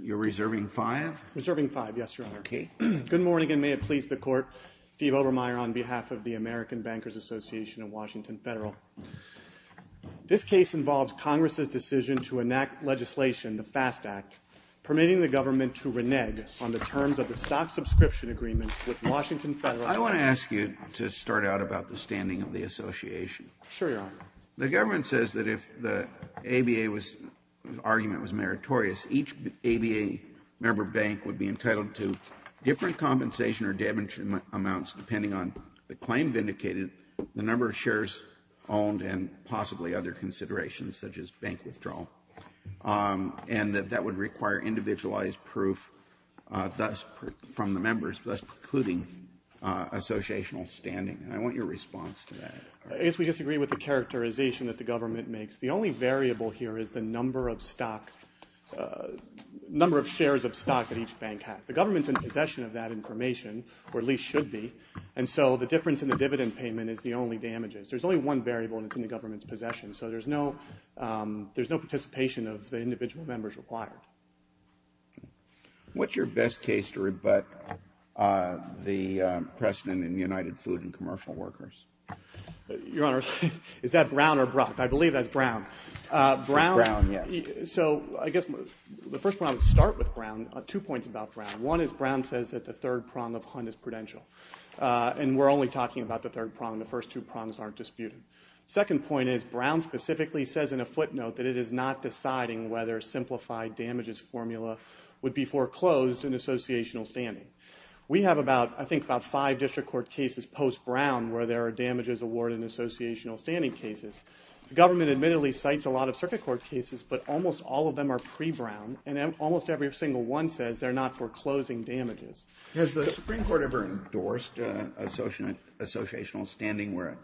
You're reserving five? Reserving five, yes, Your Honor. Okay. Good morning and may it please the Court. Steve Obermeyer on behalf of the American Bankers Association of Washington Federal. This case involves Congress's decision to enact legislation, the FAST Act, permitting the government to renege on the terms of the stock subscription agreement with Washington Federal. I want to ask you to start out about the standing of the association. Sure, Your Honor. The government says that if the ABA argument was meritorious, each ABA member bank would be entitled to different compensation or damage amounts depending on the claim vindicated, the number of shares owned, and possibly other considerations such as bank withdrawal, and that that would require individualized proof thus from the members, thus precluding associational standing. I want your response to that. I guess we disagree with the characterization that the government makes. The only variable here is the number of shares of stock that each bank has. The government's in possession of that information, or at least should be, and so the difference in the dividend payment is the only damages. There's only one variable and it's in the government's possession, so there's no participation of the individual members required. What's your best case to rebut the precedent in United Food and Commercial Workers? Your Honor, is that Brown or Brock? I believe that's Brown. It's Brown, yes. So I guess the first one I would start with Brown, two points about Brown. One is Brown says that the third prong of Hunt is prudential, and we're only talking about the third prong. The first two prongs aren't disputed. Second point is Brown specifically says in a footnote that it is not deciding whether a simplified damages formula would be foreclosed in associational standing. We have, I think, about five district court cases post-Brown where there are damages awarded in associational standing cases. The government admittedly cites a lot of circuit court cases, but almost all of them are pre-Brown, and almost every single one says they're not foreclosing damages. Has the Supreme Court ever endorsed associational standing where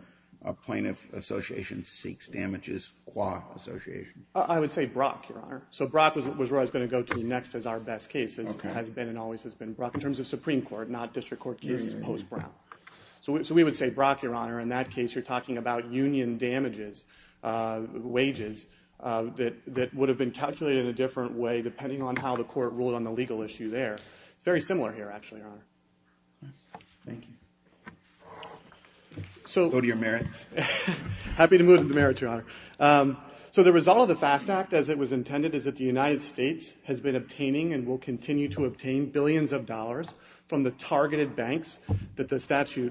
a plaintiff association seeks damages qua association? I would say Brock, Your Honor. So Brock was where I was going to go to next as our best case. It has been and always has been Brock in terms of Supreme Court, not district court cases post-Brown. So we would say Brock, Your Honor. In that case, you're talking about union damages, wages, that would have been calculated in a different way depending on how the court ruled on the legal issue there. It's very similar here, actually, Your Honor. Thank you. Go to your merits. Happy to move to the merits, Your Honor. So the result of the FAST Act, as it was intended, is that the United States has been obtaining and will continue to obtain billions of dollars from the targeted banks that the statute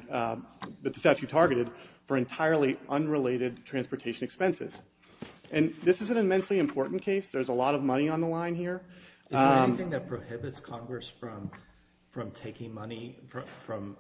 targeted for entirely unrelated transportation expenses. And this is an immensely important case. There's a lot of money on the line here. Is there anything that prohibits Congress from taking money from,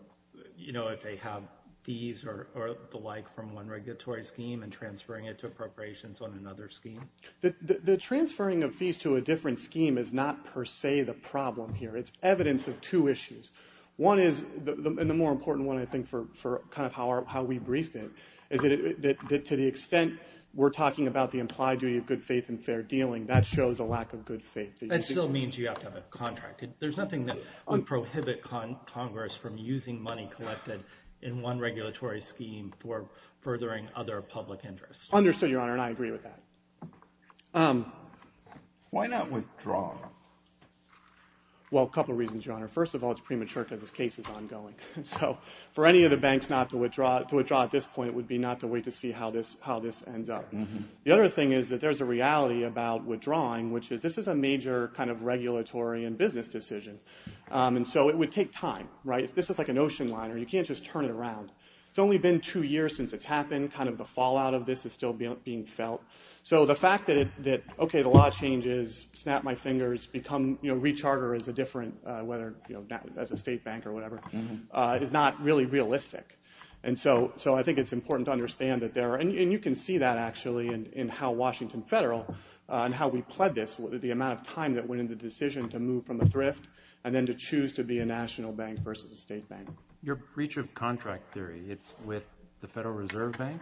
you know, if they have fees or the like from one regulatory scheme and transferring it to appropriations on another scheme? The transferring of fees to a different scheme is not per se the problem here. It's evidence of two issues. One is, and the more important one, I think, for kind of how we briefed it, is that to the extent we're talking about the implied duty of good faith and fair dealing, that shows a lack of good faith. That still means you have to have a contract. There's nothing that would prohibit Congress from using money collected in one regulatory scheme for furthering other public interest. Understood, Your Honor, and I agree with that. Why not withdraw? Well, a couple of reasons, Your Honor. First of all, it's premature because this case is ongoing. So for any of the banks not to withdraw at this point would be not to wait to see how this ends up. The other thing is that there's a reality about withdrawing, which is this is a major kind of regulatory and business decision. And so it would take time, right? This is like an ocean liner. You can't just turn it around. It's only been two years since it's happened. Kind of the fallout of this is still being felt. So the fact that, okay, the law changes, snap my fingers, become recharter as a different, as a state bank or whatever, is not really realistic. And so I think it's important to understand that there are, and you can see that actually in how Washington Federal and how we pled this, the amount of time that went into the decision to move from the thrift and then to choose to be a national bank versus a state bank. Your breach of contract theory, it's with the Federal Reserve Bank?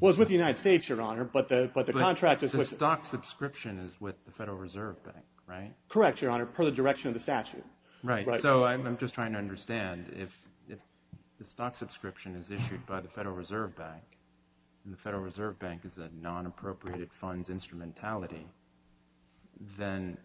Well, it's with the United States, Your Honor, but the contract is with... But the stock subscription is with the Federal Reserve Bank, right? Correct, Your Honor, per the direction of the statute. Right. So I'm just trying to understand, if the stock subscription is issued by the Federal Reserve Bank and the Federal Reserve Bank is a non-appropriated funds instrumentality, then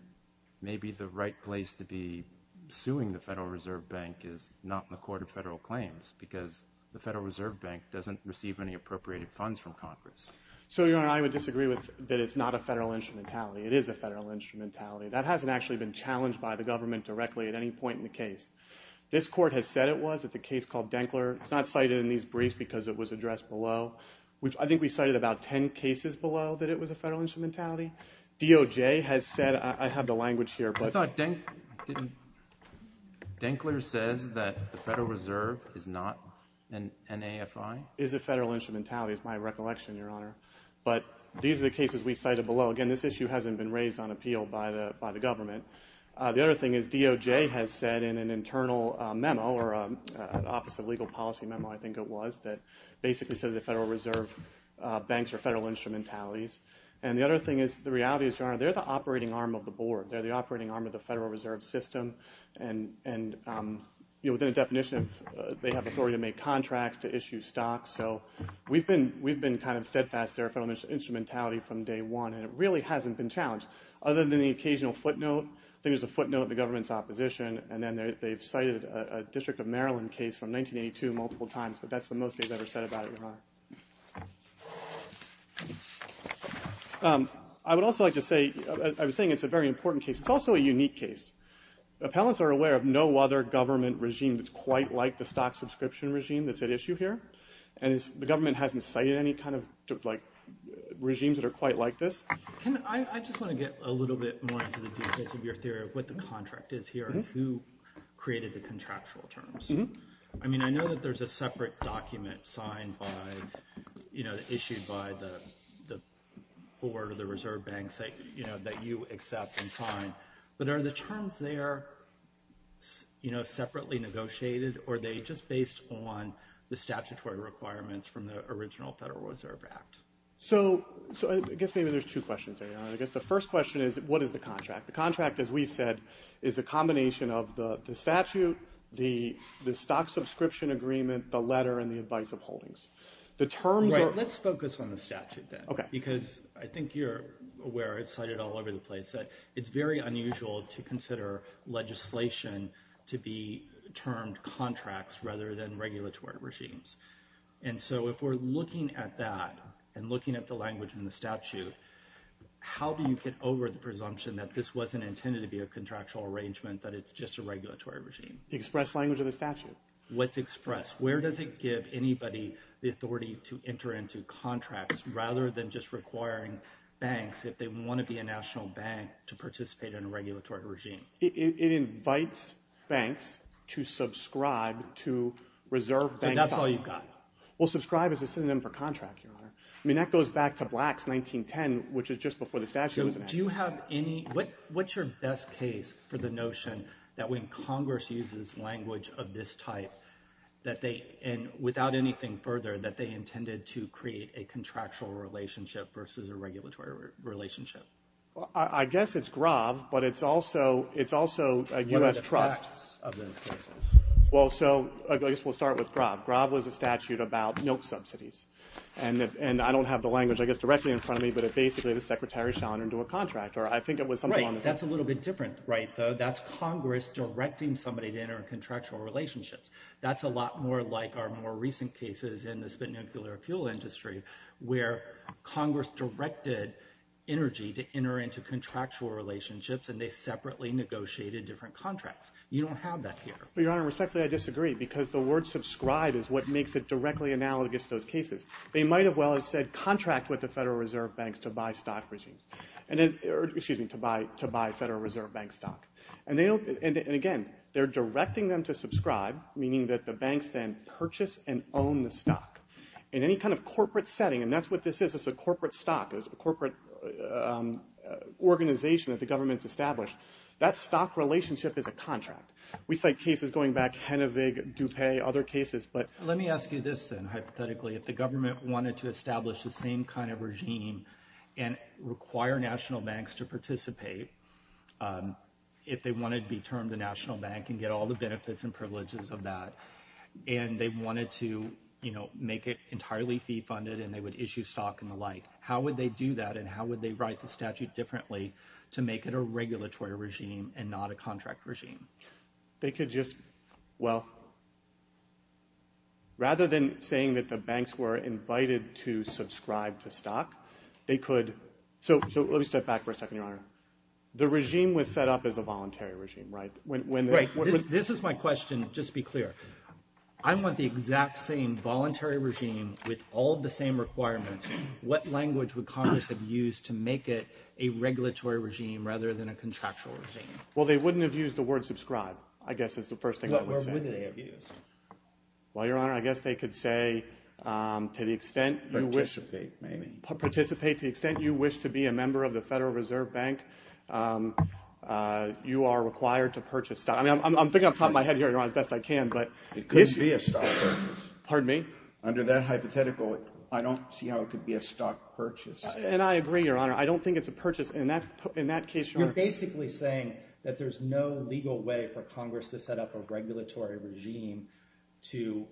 maybe the right place to be suing the Federal Reserve Bank is not in the Court of Federal Claims because the Federal Reserve Bank doesn't receive any appropriated funds from Congress. So, Your Honor, I would disagree that it's not a federal instrumentality. It is a federal instrumentality. That hasn't actually been challenged by the government directly at any point in the case. This court has said it was. It's a case called Denkler. It's not cited in these briefs because it was addressed below. I think we cited about 10 cases below that it was a federal instrumentality. DOJ has said... I have the language here, but... I thought Denk... Denkler says that the Federal Reserve is not an AFI? It is a federal instrumentality, is my recollection, Your Honor. But these are the cases we cited below. Again, this issue hasn't been raised on appeal by the government. The other thing is DOJ has said in an internal memo, or an Office of Legal Policy memo, I think it was, that basically says the Federal Reserve banks are federal instrumentalities. And the other thing is the reality is, Your Honor, they're the operating arm of the board. They're the operating arm of the Federal Reserve system. And within a definition, they have authority to make contracts, to issue stocks. So we've been kind of steadfast. They're a federal instrumentality from day one. And it really hasn't been challenged. Other than the occasional footnote. I think there's a footnote in the government's opposition. And then they've cited a District of Maryland case from 1982 multiple times. But that's the most they've ever said about it, Your Honor. I would also like to say, I was saying it's a very important case. It's also a unique case. Appellants are aware of no other government regime that's quite like the stock subscription regime that's at issue here. And the government hasn't cited any kind of regimes that are quite like this. I just want to get a little bit more into the details of your theory of what the contract is here and who created the contractual terms. I know that there's a separate document issued by the Board of the Reserve Banks that you accept and sign. But are the terms there separately negotiated? Or are they just based on the statutory requirements from the original Federal Reserve Act? I guess maybe there's two questions there, Your Honor. I guess the first question is, what is the contract? The contract, as we've said, is a combination of the statute, the stock subscription agreement, the letter, and the advice of holdings. Let's focus on the statute then. Because I think you're aware, it's cited all over the place, that it's very unusual to consider legislation to be termed contracts rather than regulatory regimes. And so if we're looking at that and looking at the language in the statute, how do you get over the presumption that this wasn't intended to be a contractual arrangement, that it's just a regulatory regime? The express language of the statute. What's expressed? Where does it give anybody the authority to enter into contracts rather than just requiring banks, if they want to be a national bank, to participate in a regulatory regime? It invites banks to subscribe to Reserve Bank stock. So that's all you've got? Well, subscribe is a synonym for contract, Your Honor. I mean, that goes back to Blacks 1910, which is just before the statute was enacted. What's your best case for the notion that when Congress uses language of this type, without anything further, that they intended to create a contractual relationship versus a regulatory relationship? I guess it's GROV, but it's also a U.S. trust. What are the facts of those cases? Well, so I guess we'll start with GROV. GROV was a statute about milk subsidies. And I don't have the language, I guess, directly in front of me, but basically the secretary shone into a contract, or I think it was something along those lines. Right, that's a little bit different, right, though. That's Congress directing somebody to enter in contractual relationships. That's a lot more like our more recent cases in the spent nuclear fuel industry where Congress directed energy to enter into contractual relationships, and they separately negotiated different contracts. You don't have that here. Well, Your Honor, respectfully, I disagree, because the word subscribe is what makes it directly analogous to those cases. They might as well have said contract with the Federal Reserve Banks to buy stock regimes, or excuse me, to buy Federal Reserve Bank stock. And again, they're directing them to subscribe, meaning that the banks then purchase and own the stock. In any kind of corporate setting, and that's what this is, it's a corporate stock, it's a corporate organization that the government's established, that stock relationship is a contract. We cite cases going back, Henevig, DuPay, other cases. Let me ask you this, then, hypothetically. If the government wanted to establish the same kind of regime and require national banks to participate, if they wanted to be termed a national bank and get all the benefits and privileges of that, and they wanted to, you know, make it entirely fee-funded and they would issue stock and the like, how would they do that, and how would they write the statute differently to make it a regulatory regime and not a contract regime? They could just, well, rather than saying that the banks were invited to subscribe to stock, they could, so let me step back for a second, Your Honor. The regime was set up as a voluntary regime, right? Right. This is my question, just to be clear. I want the exact same voluntary regime with all of the same requirements. What language would Congress have used to make it a regulatory regime rather than a contractual regime? Well, they wouldn't have used the word subscribe, I guess is the first thing I would say. Well, where would they have used? Well, Your Honor, I guess they could say to the extent you wish to be a member of the Federal Reserve Bank, you are required to purchase stock. I'm thinking off the top of my head here, Your Honor, as best I can. It couldn't be a stock purchase. Pardon me? Under that hypothetical, I don't see how it could be a stock purchase. And I agree, Your Honor. I don't think it's a purchase. You're basically saying that there's no legal way for Congress to set up a regulatory regime to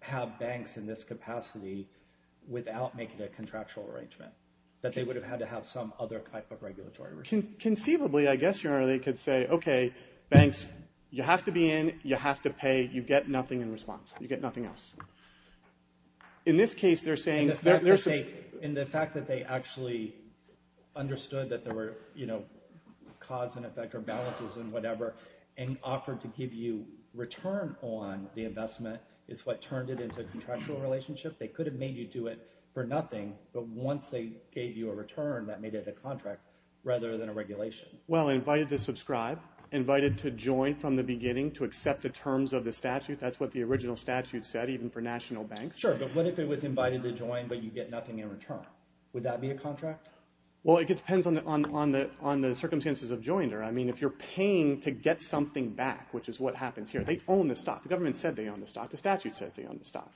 have banks in this capacity without making a contractual arrangement, that they would have had to have some other type of regulatory regime. Conceivably, I guess, Your Honor, they could say, okay, banks, you have to be in, you have to pay, you get nothing in response, you get nothing else. In this case, they're saying there's... In the fact that they actually understood that there were, you know, cause and effect, or balances and whatever, and offered to give you return on the investment is what turned it into a contractual relationship. They could have made you do it for nothing, but once they gave you a return, that made it a contract rather than a regulation. Well, invited to subscribe, invited to join from the beginning, to accept the terms of the statute. That's what the original statute said, even for national banks. Sure, but what if it was invited to join, but you get nothing in return? Would that be a contract? Well, it depends on the circumstances of joiner. I mean, if you're paying to get something back, which is what happens here, they own the stock. The government said they own the stock. The statute says they own the stock.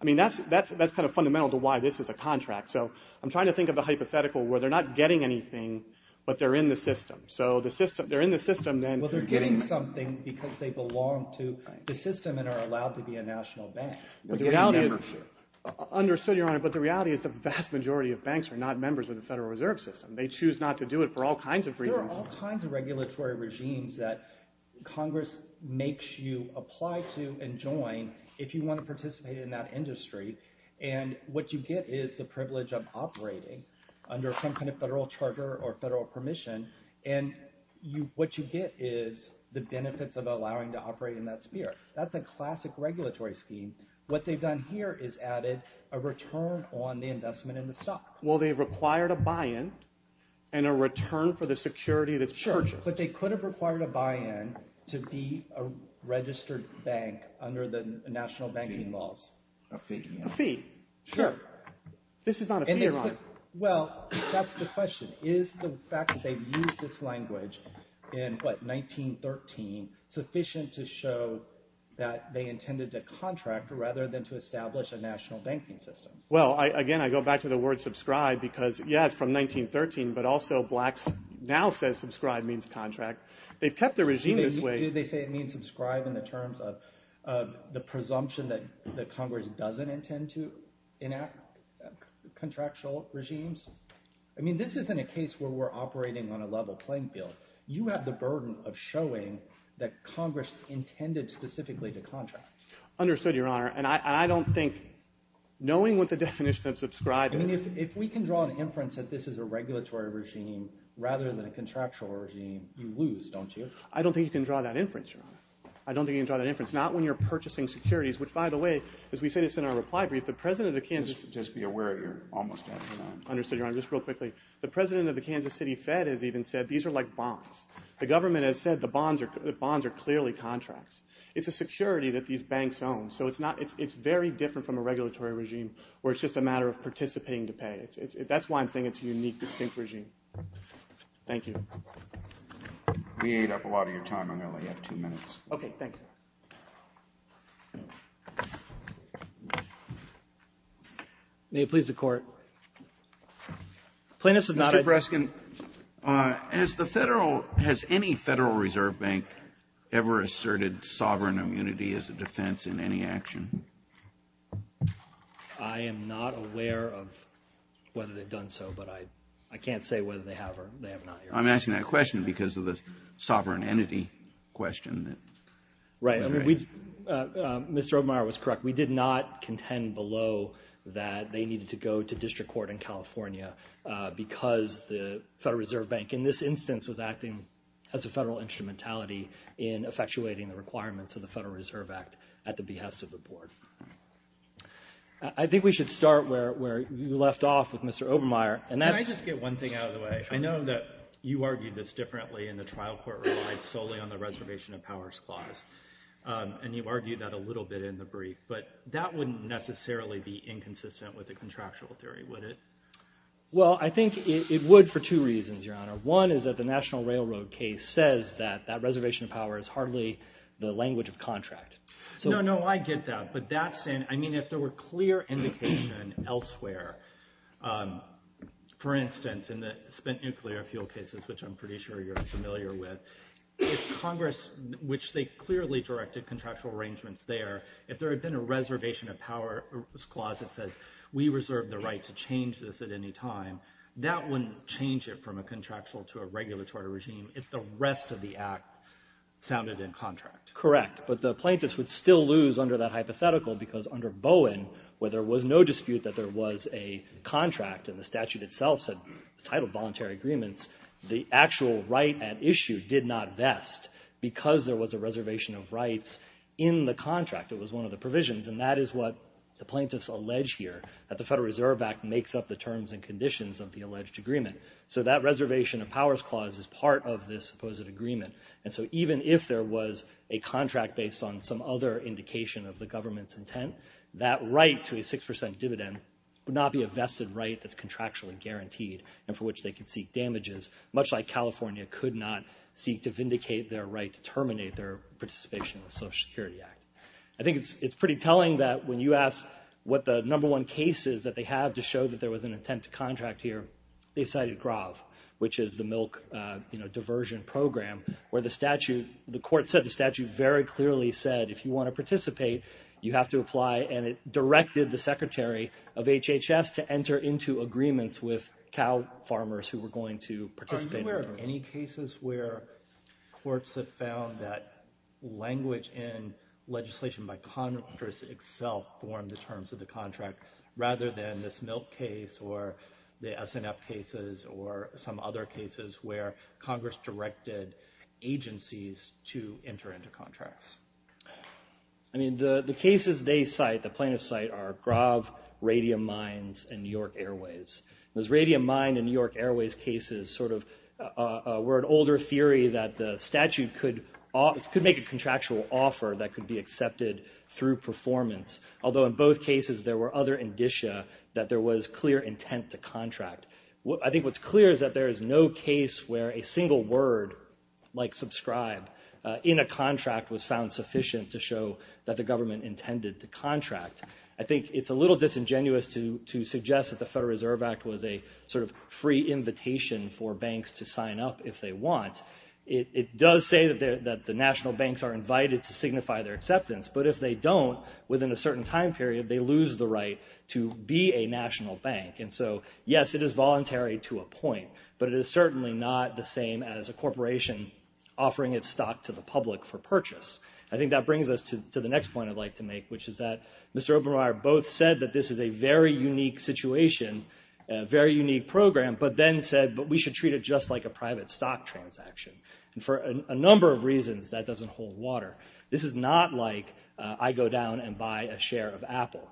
I mean, that's kind of fundamental to why this is a contract. So I'm trying to think of a hypothetical where they're not getting anything, but they're in the system. So they're in the system, then... Understood, Your Honor, but the reality is the vast majority of banks are not members of the Federal Reserve System. They choose not to do it for all kinds of reasons. There are all kinds of regulatory regimes that Congress makes you apply to and join if you want to participate in that industry, and what you get is the privilege of operating under some kind of federal charter or federal permission, and what you get is the benefits of allowing to operate in that sphere. That's a classic regulatory scheme. What they've done here is added a return on the investment in the stock. Well, they've required a buy-in and a return for the security that's purchased. Sure, but they could have required a buy-in to be a registered bank under the national banking laws. A fee. A fee, sure. This is not a fee, Your Honor. Well, that's the question. Is the fact that they've used this language in, what, 1913, sufficient to show that they intended to contract rather than to establish a national banking system? Well, again, I go back to the word subscribe because, yeah, it's from 1913, but also blacks now say subscribe means contract. They've kept the regime this way. Do they say it means subscribe in the terms of the presumption that Congress doesn't intend to enact contractual regimes? I mean, this isn't a case where we're operating on a level playing field. You have the burden of showing that Congress intended specifically to contract. Understood, Your Honor, and I don't think knowing what the definition of subscribe is. I mean, if we can draw an inference that this is a regulatory regime rather than a contractual regime, you lose, don't you? I don't think you can draw that inference, Your Honor. I don't think you can draw that inference, not when you're purchasing securities, which, by the way, as we say this in our reply brief, the president of Kansas Just be aware you're almost out of time. Understood, Your Honor. Just real quickly, the president of the Kansas City Fed has even said these are like bonds. The government has said the bonds are clearly contracts. It's a security that these banks own, so it's very different from a regulatory regime where it's just a matter of participating to pay. That's why I'm saying it's a unique, distinct regime. Thank you. We ate up a lot of your time. I'm going to let you have two minutes. Okay, thank you. May it please the Court. Mr. Preskin, has any Federal Reserve Bank ever asserted sovereign immunity as a defense in any action? I am not aware of whether they've done so, but I can't say whether they have or they have not, Your Honor. I'm asking that question because of the sovereign entity question. Right. Mr. Obermeyer was correct. We did not contend below that they needed to go to district court in California because the Federal Reserve Bank in this instance was acting as a federal instrumentality in effectuating the requirements of the Federal Reserve Act at the behest of the Board. I think we should start where you left off with Mr. Obermeyer. Can I just get one thing out of the way? I know that you argued this differently in the trial court ruling solely on the reservation of powers clause, and you argued that a little bit in the brief, but that wouldn't necessarily be inconsistent with the contractual theory, would it? Well, I think it would for two reasons, Your Honor. One is that the National Railroad case says that that reservation of power is hardly the language of contract. No, no, I get that, but that's in—I mean, if there were clear indication elsewhere, for instance, in the spent nuclear fuel cases, which I'm pretty sure you're familiar with, if Congress, which they clearly directed contractual arrangements there, if there had been a reservation of powers clause that says we reserve the right to change this at any time, that wouldn't change it from a contractual to a regulatory regime if the rest of the Act sounded in contract. Correct, but the plaintiffs would still lose under that hypothetical because under Bowen, where there was no dispute that there was a contract and the statute itself said it's titled voluntary agreements, the actual right at issue did not vest because there was a reservation of rights in the contract. It was one of the provisions, and that is what the plaintiffs allege here, that the Federal Reserve Act makes up the terms and conditions of the alleged agreement. So that reservation of powers clause is part of this supposed agreement. And so even if there was a contract based on some other indication of the government's intent, that right to a 6% dividend would not be a vested right that's contractually guaranteed and for which they could seek damages, much like California could not seek to vindicate their right to terminate their participation in the Social Security Act. I think it's pretty telling that when you ask what the number one case is that they have to show that there was an intent to contract here, they cited GROV, which is the Milk Diversion Program, where the statute, the court said the statute very clearly said if you want to participate, you have to apply, and it directed the Secretary of HHS to enter into agreements with cow farmers who were going to participate. Are you aware of any cases where courts have found that language in legislation by Congress itself formed the terms of the contract, rather than this Milk case or the SNF cases or some other cases where Congress directed agencies to enter into contracts? I mean, the cases they cite, the plaintiffs cite, are GROV, Radium Mines, and New York Airways. Those Radium Mine and New York Airways cases sort of were an older theory that the statute could make a contractual offer that could be accepted through performance, although in both cases there were other indicia that there was clear intent to contract. I think what's clear is that there is no case where a single word, like subscribe, in a contract was found sufficient to show that the government intended to contract. I think it's a little disingenuous to suggest that the Federal Reserve Act was a sort of free invitation for banks to sign up if they want. It does say that the national banks are invited to signify their acceptance, but if they don't, within a certain time period, they lose the right to be a national bank. And so, yes, it is voluntary to a point, but it is certainly not the same as a corporation offering its stock to the public for purchase. I think that brings us to the next point I'd like to make, which is that Mr. Obermeier both said that this is a very unique situation, a very unique program, but then said, but we should treat it just like a private stock transaction. And for a number of reasons, that doesn't hold water. This is not like I go down and buy a share of Apple.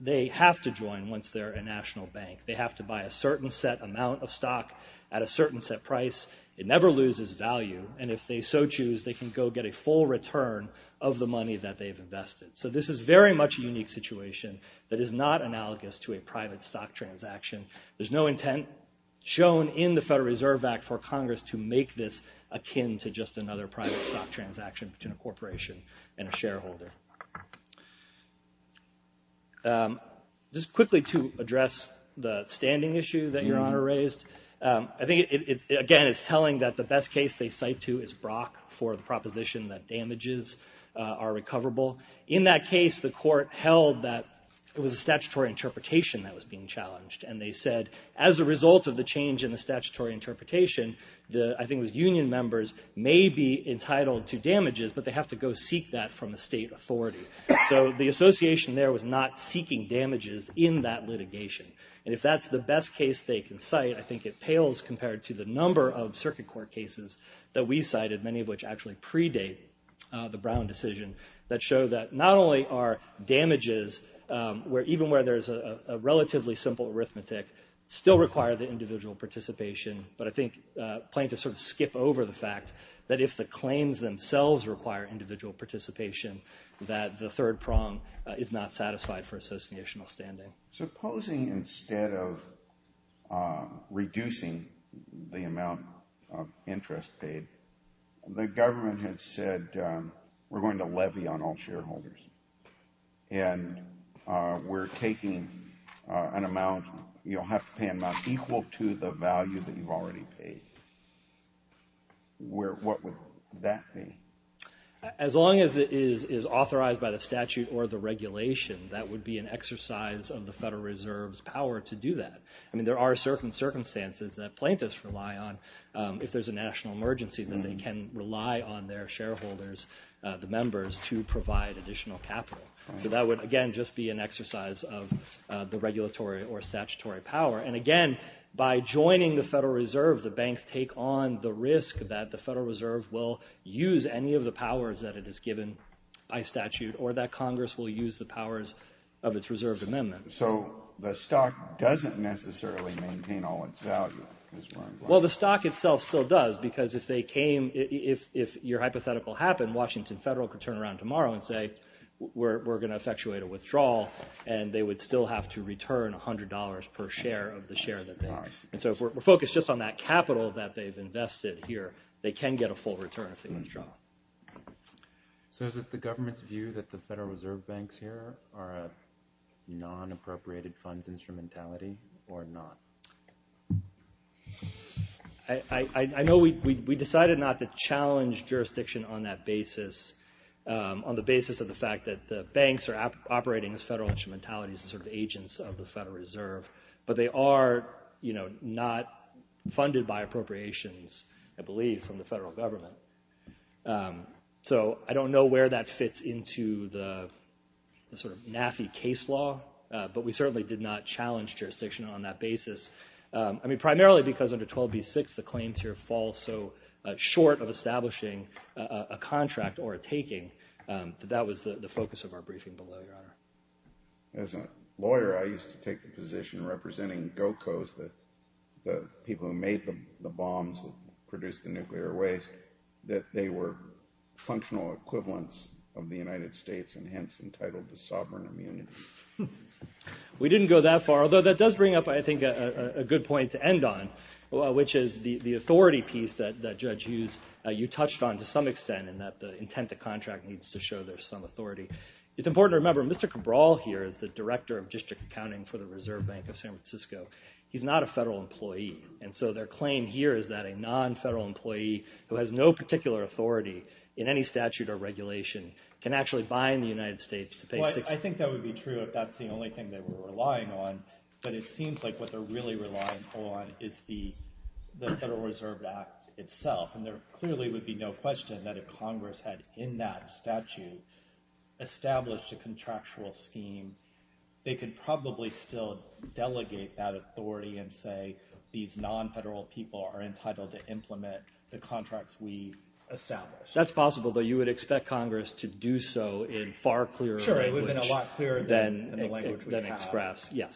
They have to join once they're a national bank. They have to buy a certain set amount of stock at a certain set price. It never loses value, and if they so choose, they can go get a full return of the money that they've invested. So this is very much a unique situation that is not analogous to a private stock transaction. There's no intent shown in the Federal Reserve Act for Congress to make this akin to just another private stock transaction between a corporation and a shareholder. Just quickly to address the standing issue that Your Honor raised, I think, again, it's telling that the best case they cite to is Brock for the proposition that damages are recoverable. In that case, the court held that it was a statutory interpretation that was being challenged, and they said as a result of the change in the statutory interpretation, I think it was union members may be entitled to damages, but they have to go seek that from a state authority. So the association there was not seeking damages in that litigation. And if that's the best case they can cite, I think it pales compared to the number of circuit court cases that we cited, many of which actually predate the Brown decision, that show that not only are damages, even where there's a relatively simple arithmetic, still require the individual participation, but I think plaintiffs sort of skip over the fact that if the claims themselves require individual participation, that the third prong is not satisfied for associational standing. So supposing instead of reducing the amount of interest paid, the government had said we're going to levy on all shareholders, and we're taking an amount, you'll have to pay an amount equal to the value that you've already paid. What would that be? As long as it is authorized by the statute or the regulation, that would be an exercise of the Federal Reserve's power to do that. I mean, there are certain circumstances that plaintiffs rely on. If there's a national emergency, then they can rely on their shareholders, the members, to provide additional capital. So that would, again, just be an exercise of the regulatory or statutory power. And, again, by joining the Federal Reserve, the banks take on the risk that the Federal Reserve will use any of the powers that it has given by statute or that Congress will use the powers of its reserved amendment. So the stock doesn't necessarily maintain all its value. Well, the stock itself still does, because if they came, if your hypothetical happened, Washington Federal could turn around tomorrow and say we're going to effectuate a withdrawal, and they would still have to return $100 per share of the share that they made. And so if we're focused just on that capital that they've invested here, they can get a full return if they withdraw. So is it the government's view that the Federal Reserve banks here are a non-appropriated funds instrumentality or not? I know we decided not to challenge jurisdiction on that basis, on the basis of the fact that the banks are operating as federal instrumentalities and sort of agents of the Federal Reserve, but they are not funded by appropriations, I believe, from the federal government. So I don't know where that fits into the sort of NAFI case law, but we certainly did not challenge jurisdiction on that basis. I mean, primarily because under 12b-6 the claims here fall so short of establishing a contract or a taking, that that was the focus of our briefing below, Your Honor. As a lawyer, I used to take the position representing GOCOs, the people who made the bombs that produced the nuclear waste, that they were functional equivalents of the United States and hence entitled to sovereign immunity. We didn't go that far, although that does bring up, I think, a good point to end on, which is the authority piece that Judge Hughes, you touched on to some extent in that the intent of the contract needs to show there's some authority. It's important to remember Mr. Cabral here is the Director of District Accounting for the Reserve Bank of San Francisco. He's not a federal employee, and so their claim here is that a non-federal employee who has no particular authority in any statute or regulation can actually buy in the United States to pay $60,000. Well, I think that would be true if that's the only thing they were relying on, but it seems like what they're really relying on is the Federal Reserve Act itself, and there clearly would be no question that if Congress had in that statute established a contractual scheme, they could probably still delegate that authority and say these non-federal people are entitled to implement the contracts we established. That's possible, though you would expect Congress to do so in far clearer language. Sure, it would have been a lot clearer than the language we have.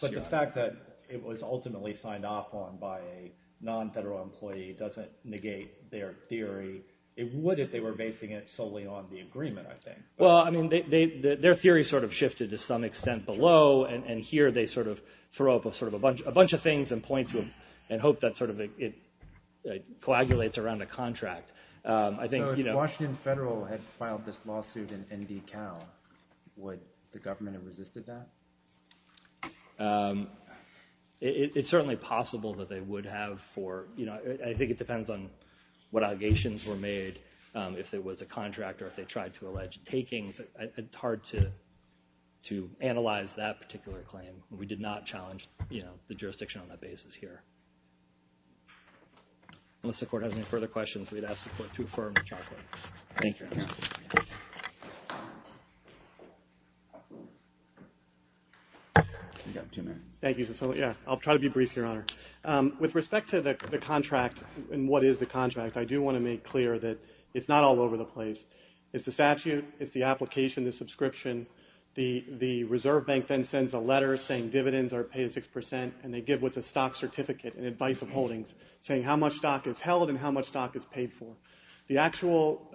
But the fact that it was ultimately signed off on by a non-federal employee doesn't negate their theory. It would if they were basing it solely on the agreement, I think. Well, I mean, their theory sort of shifted to some extent below, and here they sort of throw up a bunch of things and point to them and hope that it coagulates around a contract. So if Washington Federal had filed this lawsuit in ND Cal, would the government have resisted that? It's certainly possible that they would have. I think it depends on what allegations were made, if it was a contract or if they tried to allege takings. It's hard to analyze that particular claim. We did not challenge the jurisdiction on that basis here. Unless the Court has any further questions, we'd ask the Court to affirm the chart. Thank you. You've got two minutes. Thank you. I'll try to be brief, Your Honor. With respect to the contract and what is the contract, I do want to make clear that it's not all over the place. It's the statute, it's the application, the subscription. The Reserve Bank then sends a letter saying dividends are paid at 6%, and they give what's a stock certificate, an advice of holdings, saying how much stock is held and how much stock is paid for. The actual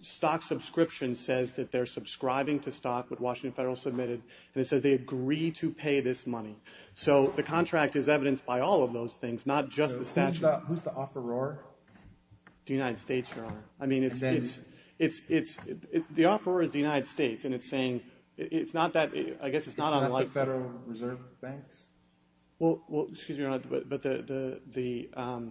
stock subscription says that they're subscribing to stock, what Washington Federal submitted, and it says they agree to pay this money. So the contract is evidenced by all of those things, not just the statute. Who's the offeror? The United States, Your Honor. I mean, the offeror is the United States, and it's saying it's not that, I guess it's not unlike the Federal Reserve Banks. Well, excuse me, Your Honor, but the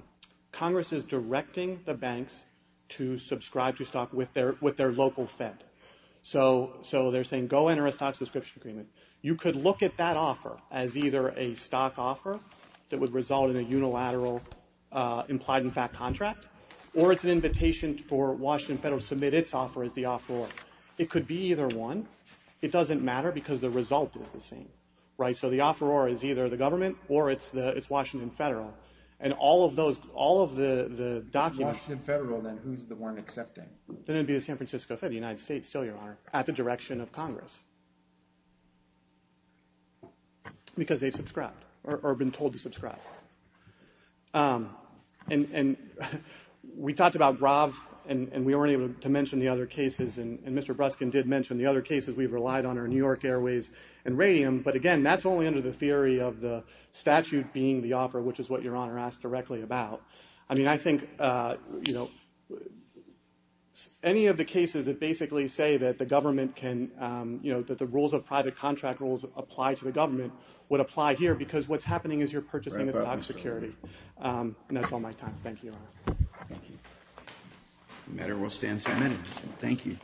Congress is directing the banks to subscribe to stock with their local Fed. So they're saying go enter a stock subscription agreement. You could look at that offer as either a stock offer that would result in a unilateral implied in fact contract, or it's an invitation for Washington Federal to submit its offer as the offeror. It could be either one. It doesn't matter because the result is the same, right? So the offeror is either the government or it's Washington Federal. And all of those, all of the documents. Washington Federal then, who's the one accepting? Then it would be the San Francisco Fed, the United States still, Your Honor, at the direction of Congress. Because they've subscribed or been told to subscribe. And we talked about RAV, and we weren't able to mention the other cases, and Mr. Bruskin did mention the other cases we've relied on are New York Airways and Radium. But again, that's only under the theory of the statute being the offer, which is what Your Honor asked directly about. I mean, I think, you know, any of the cases that basically say that the government can, you know, that the rules of private contract rules apply to the government would apply here because what's happening is you're purchasing a stock security. And that's all my time. Thank you, Your Honor. Thank you. The matter will stand submitted. Thank you.